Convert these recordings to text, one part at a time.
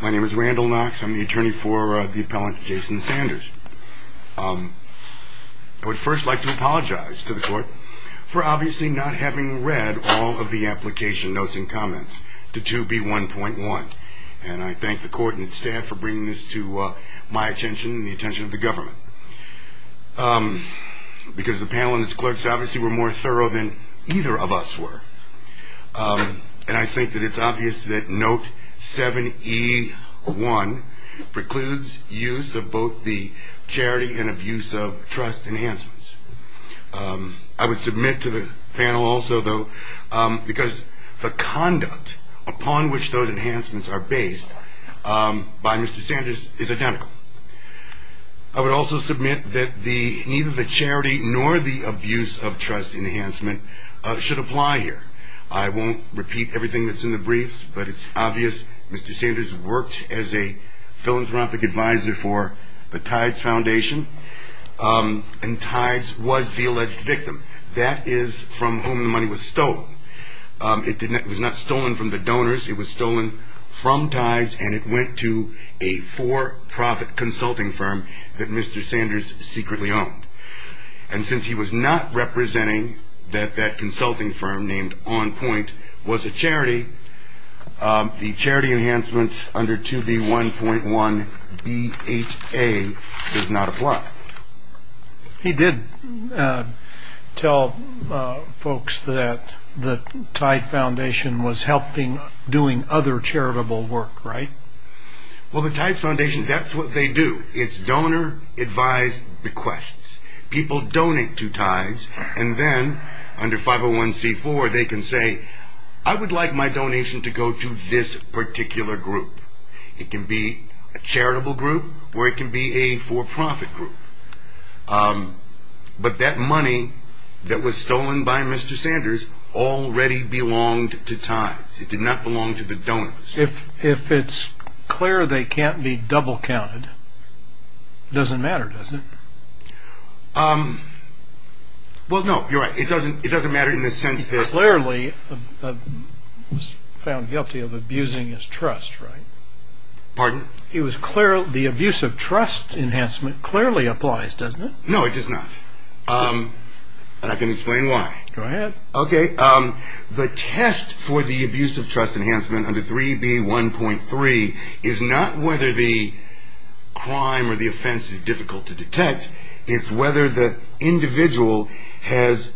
My name is Randall Knox. I'm the attorney for the appellant Jason Sanders. I would first like to apologize to the court for obviously not having read all of the application notes and comments to 2B1.1 and I thank the court and staff for bringing this to my attention and the attention of the government. Because the panel and its clerks obviously were more thorough than either of us were and I think that it's obvious that note 7E1 precludes use of both the charity and abuse of trust enhancements. I would submit to the panel also though because the conduct upon which those enhancements are based by Mr. Sanders is identical. I would also submit that neither the charity nor the abuse of trust enhancement should apply here. I won't repeat everything that's in the briefs but it's obvious Mr. Sanders worked as a philanthropic advisor for the Tides Foundation and Tides was the alleged victim. That is from whom the money was stolen. It was not stolen from the donors. It was stolen from Tides and it went to a for-profit consulting firm that Mr. Sanders secretly owned. And since he was not representing that that consulting firm named On Point was a charity, the charity enhancements under 2B1.1B8A does not apply. He did tell folks that the Tide Foundation was helping doing other charitable work, right? Well the Tides Foundation, that's what they do. It's donor advised requests. People donate to Tides and then under 501c4 they can say I would like my donation to go to this particular group. It can be a charitable group or it can be a for-profit group. But that money that was stolen by Mr. Sanders already belonged to Tides. It did not belong to the donors. If it's clear they can't be double counted, it doesn't matter, does it? Well no, you're right. It doesn't matter in the sense that... He was found guilty of abusing his trust, right? Pardon? The abuse of trust enhancement clearly applies, doesn't it? No, it does not. But I can explain why. Go ahead. The test for the abuse of trust enhancement under 3B1.3 is not whether the individual has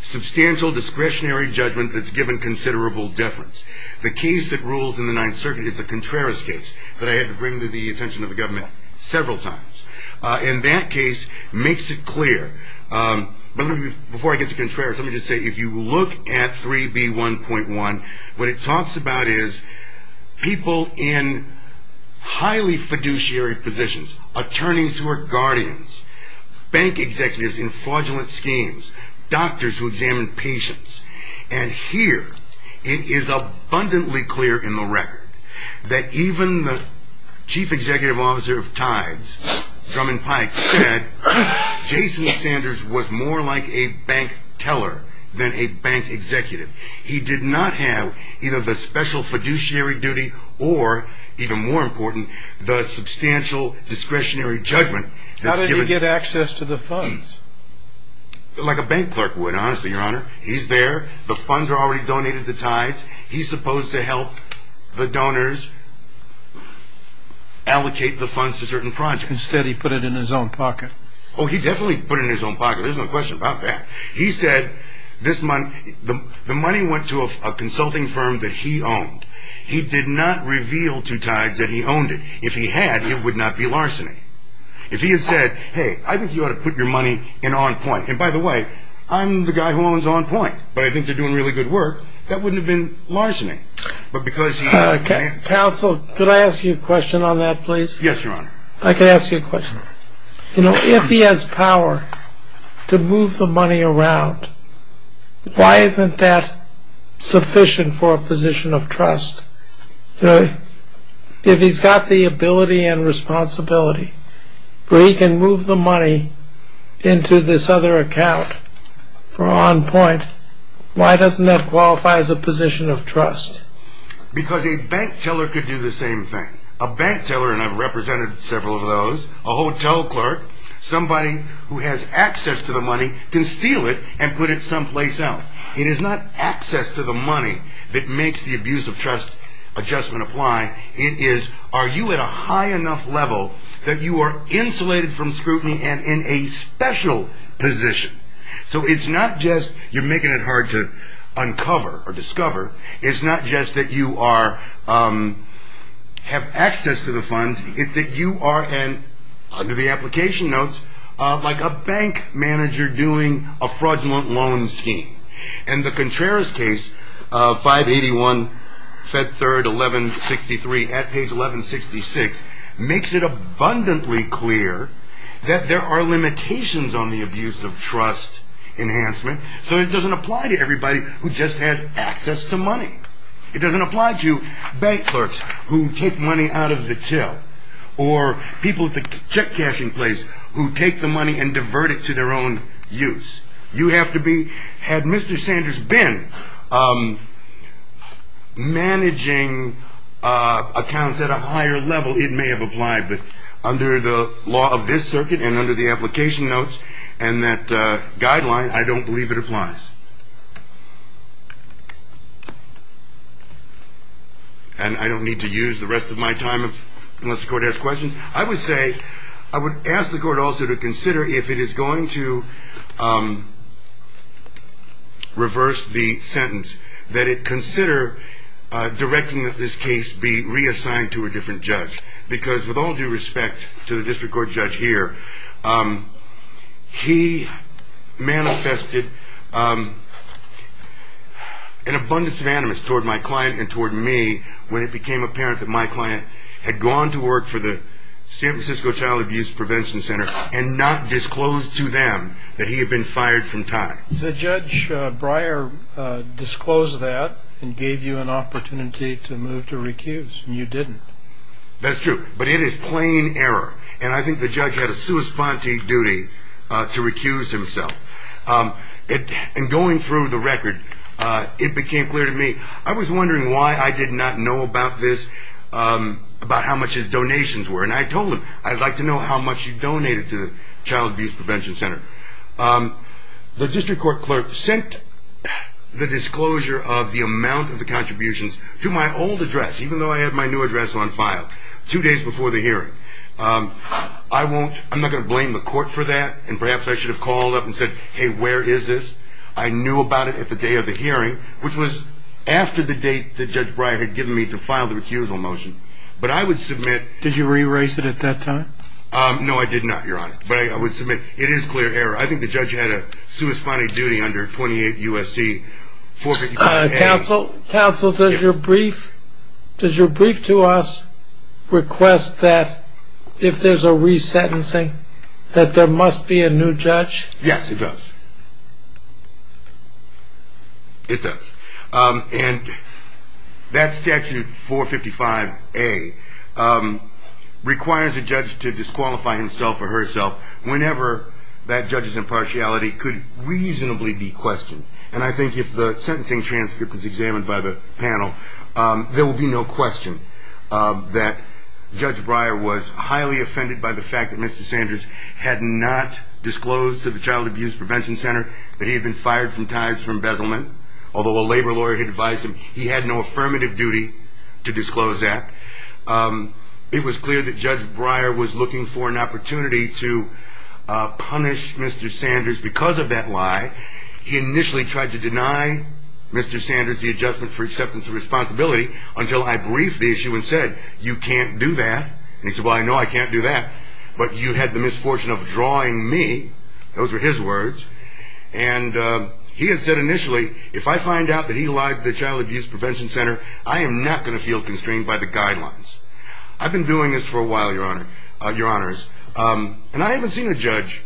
substantial discretionary judgment that's given considerable deference. The case that rules in the Ninth Circuit is the Contreras case that I had to bring to the attention of the government several times. And that case makes it clear. Before I get to Contreras, let me just say if you look at 3B1.1, what it talks about is people in highly fiduciary positions, attorneys who are guardians, bank executives in fraudulent schemes, doctors who examine patients. And here, it is abundantly clear in the record that even the chief executive officer of Tides, Drummond Pike, said Jason Sanders was more like a bank teller than a bank executive. He did not have either the special fiduciary duty or, even more important, the substantial discretionary judgment. How did he get access to the funds? Like a bank clerk would, honestly, Your Honor. He's there. The funds are already donated to Tides. He's supposed to help the donors allocate the funds to certain projects. Instead, he put it in his own pocket. Oh, he definitely put it in his own pocket. There's no question about that. He said this month the money went to a consulting firm that he owned. He did not reveal to Tides that he owned it. If he had, it would not be larceny. If he had said, hey, I think you ought to put your money in on point. And by the way, I'm the guy who owns on point. But I think they're doing really good work. That wouldn't have been larceny. Counsel, could I ask you a question on that, please? Yes, Your Honor. I could ask you a question. You know, if he has power to move the money around, why isn't that sufficient for a position of trust? If he's got the ability and responsibility where he can move the money into this other account for on point, why doesn't that qualify as a position of trust? Because a bank teller could do the same thing. A bank teller, and I've represented several of those, a hotel clerk, somebody who has access to the money can steal it and put it someplace else. It is not access to the money that makes the abuse of trust adjustment apply. It is, are you at a high enough level that you are insulated from scrutiny and in a special position? So it's not just you're making it hard to uncover or discover. It's not just that you have access to the funds. It's that you are, under the application notes, like a bank manager doing a fraudulent loan scheme. And the Contreras case 581 Fed 3rd 1163 at page 1166 makes it abundantly clear that there are limitations on the abuse of trust enhancement so it doesn't apply to everybody who just has access to money. It doesn't apply to bank clerks who take money out of the till or people at the check cashing place who take the money and divert it to their own use. You have to be, had Mr. Sanders been managing accounts at a higher level, it may have applied, but under the law of this circuit and under the application notes and that guideline, I don't believe it applies. And I don't need to use the rest of my time unless the court has questions. I would say ask the court also to consider if it is going to reverse the sentence, that it consider directing that this case be reassigned to a different judge because with all due respect to the district court judge here, he manifested an abundance of animus toward my client and toward me when it became apparent that my client had gone to work for the San Francisco Child Abuse Prevention Center and not disclosed to them that he had been fired from time. So Judge Breyer disclosed that and gave you an opportunity to move to recuse and you didn't. That's true, but it is plain error and I think the judge had a sua sponte duty to recuse himself. And going through the record, it became clear to me I was wondering why I did not know about this, about how much his donations were. And I told him, I'd like to know how much you donated to the Child Abuse Prevention Center. The district court clerk sent the disclosure of the amount of the contributions to my old address, even though I had my new address on file two days before the hearing. I'm not going to blame the court for that and perhaps I should have called up and said, hey, where is this? I knew about it at the day of the hearing, which was after the date that Judge Breyer had given me to file the recusal motion. But I would submit... Did you re-erase it at that time? No, I did not, Your Honor. But I would submit, it is clear error. I think the judge had a sua sponte duty under 28 U.S.C. 455. Counsel, does your brief to us request that if there's a re-sentencing, that there must be a new judge? Yes, it does. It does. And that statute 455A requires a judge to disqualify himself or herself whenever that judge's impartiality could reasonably be questioned. And I think if the sentencing transcript is examined by the panel, there will be no question that Judge Breyer was highly offended by the fact that Mr. Sanders had not disclosed to the Child Abuse Prevention Center that he had been fired from and that his lawyer had advised him he had no affirmative duty to disclose that. It was clear that Judge Breyer was looking for an opportunity to punish Mr. Sanders because of that lie. He initially tried to deny Mr. Sanders the adjustment for acceptance of responsibility until I briefed the issue and said, you can't do that. And he said, well, I know I can't do that, but you had the misfortune of drawing me. Those were his words. And he had said initially, if I find out that he lied to the Child Abuse Prevention Center, I am not going to feel constrained by the guidelines. I've been doing this for a while, Your Honors. And I haven't seen a judge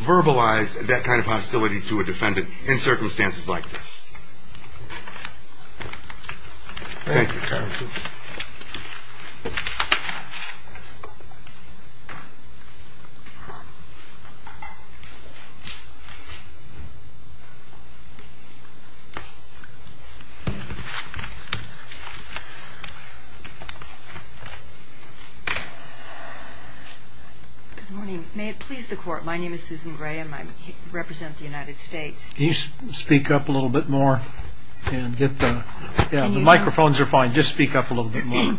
verbalize that kind of hostility to a defendant in circumstances like this. Thank you. Good morning. May it please the Court, my name is Susan Gray and I represent the United States. Can you speak up a little bit more? Yeah, the microphones are fine. Just speak up a little bit more.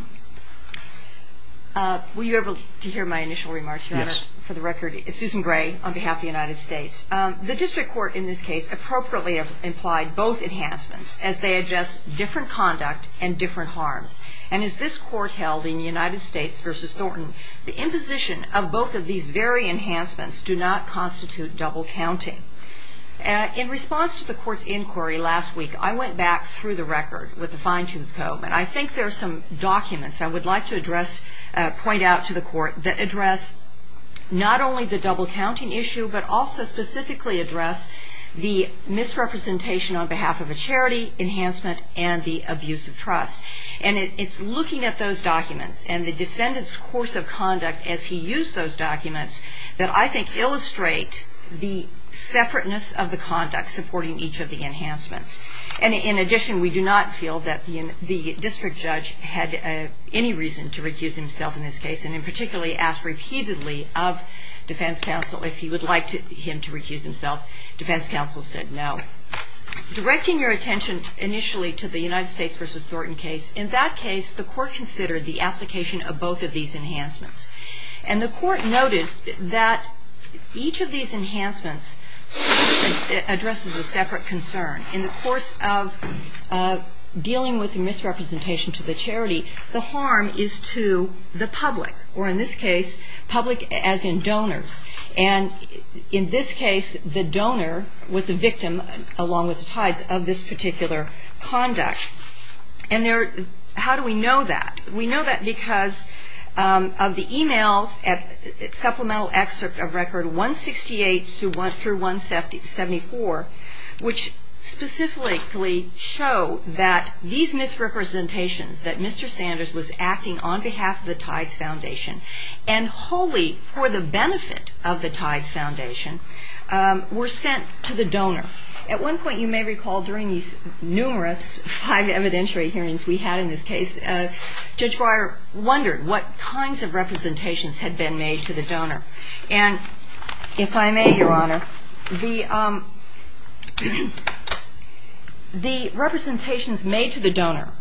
Were you able to hear my initial remarks, Your Honor? Yes. For the record, it's Susan Gray on behalf of the United States. Thank you. Thank you. The District Court in this case appropriately implied both enhancements as they address different conduct and different harms. And as this Court held in United States v. Thornton, the imposition of both of these very enhancements do not constitute double counting. In response to the Court's inquiry last week, I went back through the record with a fine-tooth comb, and I think there are some documents I would like to address and point out to the Court that address not only the enhancements, but specifically address the misrepresentation on behalf of a charity, enhancement, and the abuse of trust. And it's looking at those documents and the defendant's course of conduct as he used those documents that I think illustrate the separateness of the conduct supporting each of the enhancements. And in addition, we do not feel that the district judge had any reason to recuse himself in this case, and in particular asked repeatedly of him to recuse himself. Defense counsel said no. Directing your attention initially to the United States v. Thornton case, in that case the Court considered the application of both of these enhancements. And the Court noticed that each of these enhancements addresses a separate concern. In the course of dealing with the misrepresentation to the charity, the harm is to the public, or in this case, public as in donors. And in this case, the donor was the victim along with the Tides of this particular conduct. And how do we know that? We know that because of the emails at supplemental excerpt of Record 168 through 174, which specifically show that these misrepresentations that Mr. Sanders was acting on behalf of the Tides Foundation and wholly for the benefit of the Tides Foundation were sent to the donor. At one point, you may recall during these numerous five evidentiary hearings we had in this case, Judge Breyer wondered what kinds of representations had been made to the donor. And if I may, Your Honor, the representations made to the donor,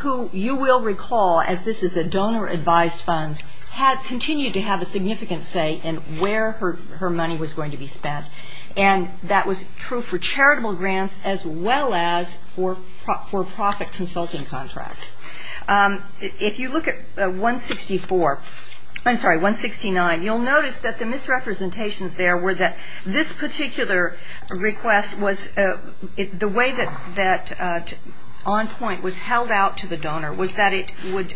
who you will recall as this is a donor-advised funds, continued to have a significant say in where her money was going to be spent. And that was true for charitable grants as well as for profit consulting contracts. If you look at 164, I'm sorry, 169, you'll notice that the misrepresentations there were that this particular request was the way that on point was held out to the donor was that it would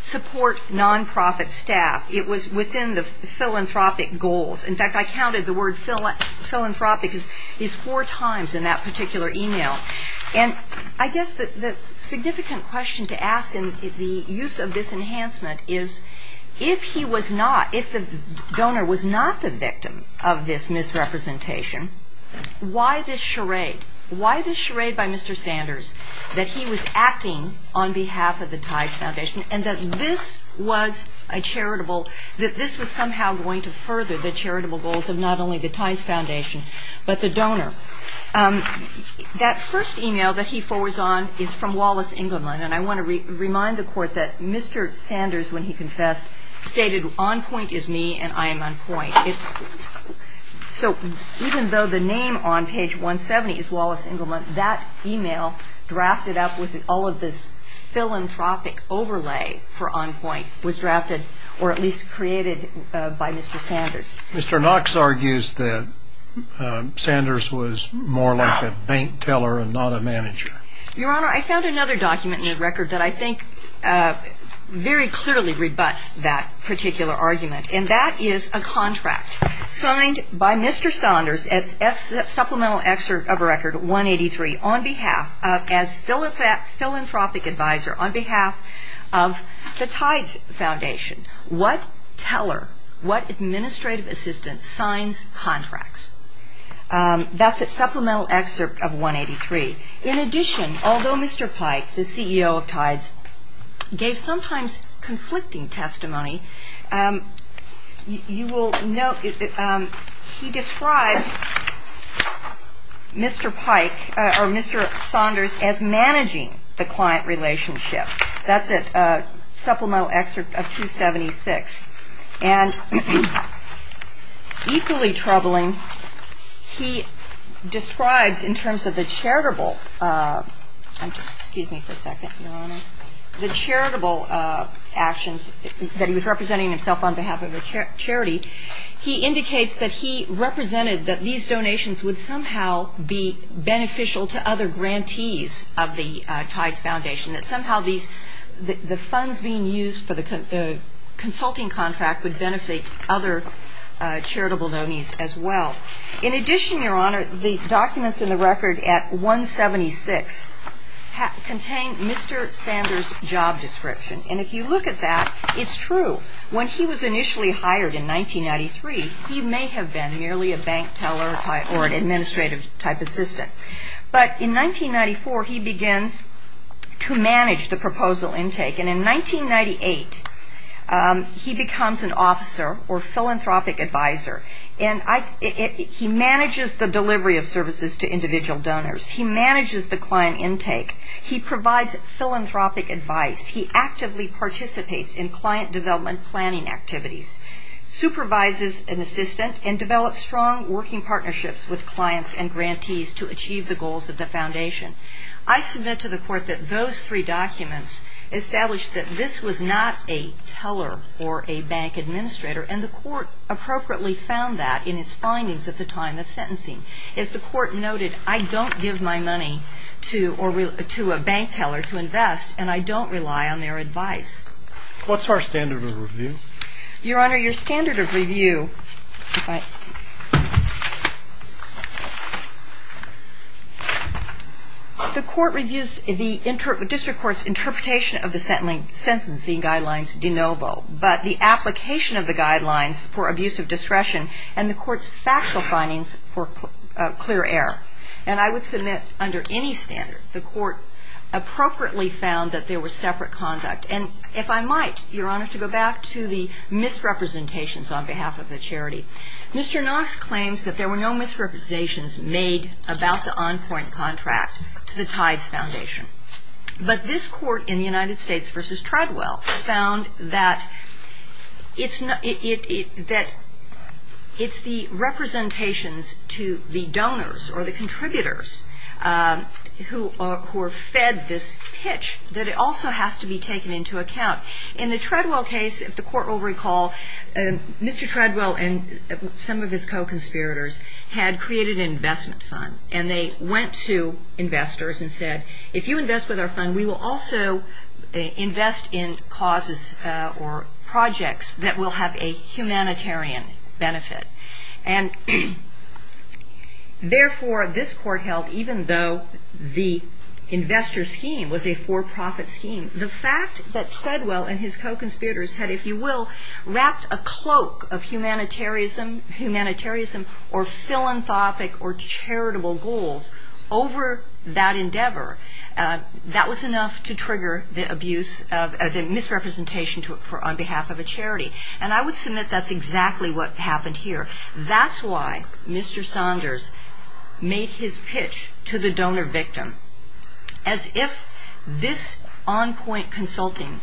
support non-profit staff. It was within the philanthropic goals. In fact, I counted the word philanthropic is four times in that particular email. And I guess the significant question to ask in the use of this enhancement is if he was not if the donor was not the victim of this misrepresentation, why this charade? Why this charade by Mr. Sanders that he was acting on behalf of the Ties Foundation and that this was a charitable that this was somehow going to further the charitable goals of not only the Ties Foundation, but the donor. That first email that he forwards on is from Wallace Engelman. And I want to remind the Court that Mr. Sanders, when he confessed, stated on point is me and I am on point. So even though the name on page 170 is drafted up with all of this philanthropic overlay for on point was drafted or at least created by Mr. Sanders. Mr. Knox argues that Sanders was more like a bank teller and not a manager. Your Honor, I found another document in the record that I think very clearly rebuts that particular argument. And that is a contract signed by Mr. Sanders at supplemental excerpt of a record 183 on behalf of as philanthropic advisor on behalf of the Ties Foundation. What teller, what administrative assistant signs contracts? That's a supplemental excerpt of 183. In addition, although Mr. Pike, the CEO of Ties gave sometimes conflicting testimony, you will note he described Mr. Pike or Mr. Sanders as managing the client relationship. That's a supplemental excerpt of 276. And equally troubling, he describes in terms of the charitable, I'm just, excuse me for a second, Your Honor, the charitable actions that he was representing himself on behalf of a charity, he indicates that he believes that these donations would somehow be beneficial to other grantees of the Ties Foundation, that somehow the funds being used for the consulting contract would benefit other charitable donees as well. In addition, Your Honor, the documents in the record at 176 contain Mr. Sanders' job description. And if you look at that, it's true. When he was initially hired in 1993, he may have been merely a bank teller or an administrative type assistant. But in 1994, he begins to manage the proposal intake. And in 1998, he becomes an officer or philanthropic advisor. And he manages the delivery of services to individual donors. He manages the client intake. He provides philanthropic advice. He actively participates in client development and planning activities, supervises an assistant, and develops strong working partnerships with clients and grantees to achieve the goals of the Foundation. I submit to the Court that those three documents establish that this was not a teller or a bank administrator. And the Court appropriately found that in its findings at the time of sentencing. As the Court noted, I don't give my money to a bank teller to invest, and I don't rely on their advice. What's our standard of review? Your Honor, your standard of review The Court reviews the District Court's interpretation of the sentencing guidelines de novo. But the application of the guidelines for abuse of discretion and the Court's factual findings for clear error. And I would submit under any standard, the Court appropriately found that there was separate conduct. And if I might, your Honor, to go back to the misrepresentations on behalf of the charity. Mr. Knox claims that there were no misrepresentations made about the on-point contract to the Tides Foundation. But this Court in the United States v. Treadwell found that it's the representations to the donors or the contributors who are fed this pitch that it also has to be taken into account. In the Treadwell case, if the Court will recall, Mr. Treadwell and some of his co-conspirators had created an investment fund. And they went to investors and said, if you invest with our fund, we will also invest in causes or projects that will have a humanitarian benefit. And therefore, this Court held that even though the investor scheme was a for-profit scheme, the fact that Treadwell and his co-conspirators had, if you will, wrapped a cloak of humanitarianism or philanthropic or charitable goals over that endeavor, that was enough to trigger the abuse of the misrepresentation on behalf of a charity. And I would submit that's exactly what happened here. That's why Mr. Saunders made his pitch to the donor victim as if this on-point consulting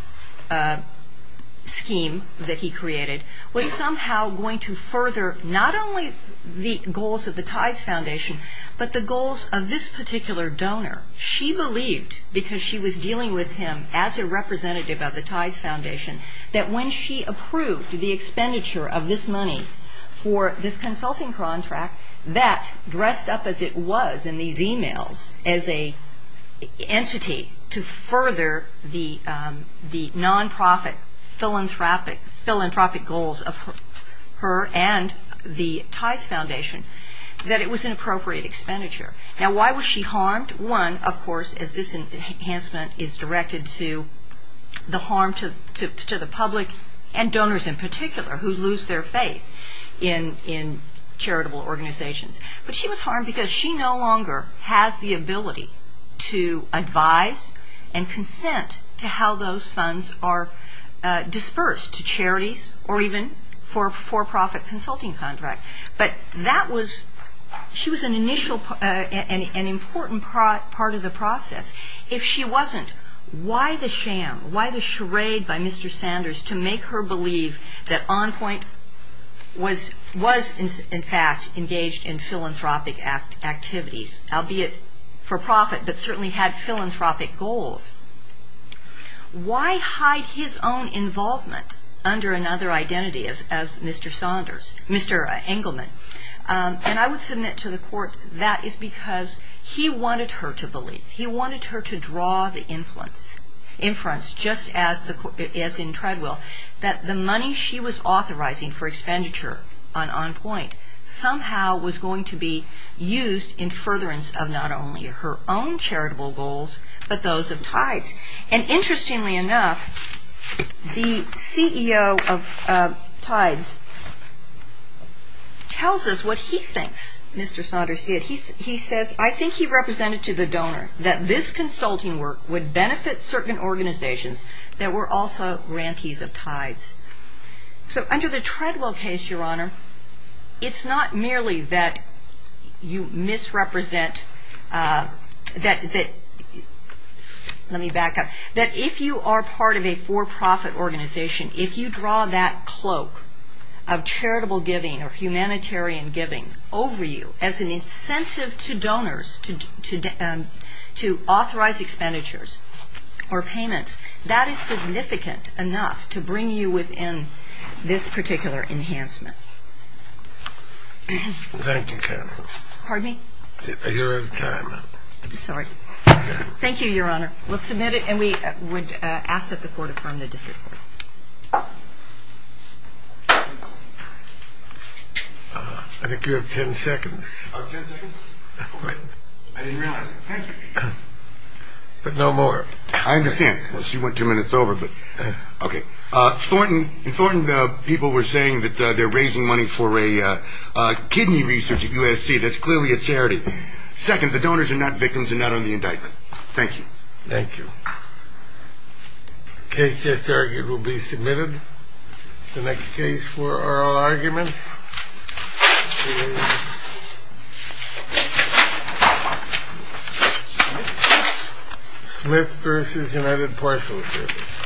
scheme that he created was somehow going to further not only the goals of the Ties Foundation, but the goals of this particular donor. She believed, because she was dealing with him as a representative of the Ties Foundation, that when she approved the expenditure of this money for this dressed up as it was in these emails as an entity to further the non-profit philanthropic goals of her and the Ties Foundation, that it was an appropriate expenditure. Now, why was she harmed? One, of course, as this enhancement is directed to the harm to the public and donors in particular who lose their faith in philanthropic goals, she was harmed because she no longer has the ability to advise and consent to how those funds are dispersed to charities or even for for-profit consulting contracts. But that was an important part of the process. If she wasn't, why the sham, why the charade by Mr. Saunders to make her believe that on-point was, in fact, engaged in philanthropic activities, albeit for-profit, but certainly had philanthropic goals, why hide his own involvement under another identity of Mr. Saunders, Mr. Engelman? And I would submit to the Court that is because he wanted her to believe. He wanted her to draw the inference, just as in Treadwell, that the money she was authorizing for expenditure on on-point somehow was going to be used in furtherance of not only her own charitable goals, but those of Tides. And interestingly enough, the CEO of Tides tells us what he thinks Mr. Saunders did. He says, I think he represented to the donor that this consulting work would benefit certain organizations that were also grantees of Tides. So under the Treadwell case, Your Honor, it's not merely that you misrepresent, that let me back up, that if you are part of a for-profit organization, if you draw that cloak of charitable giving or humanitarian giving over you as an incentive to donors to authorize expenditures or payments, that is significant enough to bring you within this particular enhancement. Thank you, Counselor. Pardon me? Your time. Sorry. Thank you, Your Honor. We'll submit it and we would ask that the Court affirm the District Court. I think you have 10 seconds. Oh, 10 seconds? I didn't realize it. Thank you. But no more. I understand. Well, she went two minutes over, but okay. Thornton, people were saying that they're raising money for a kidney research at USC. That's clearly a charity. Second, the donors are not victims and not on the indictment. Thank you. Thank you. Case just argued will be submitted. The next case for oral argument is Smith v. United Parcel Service.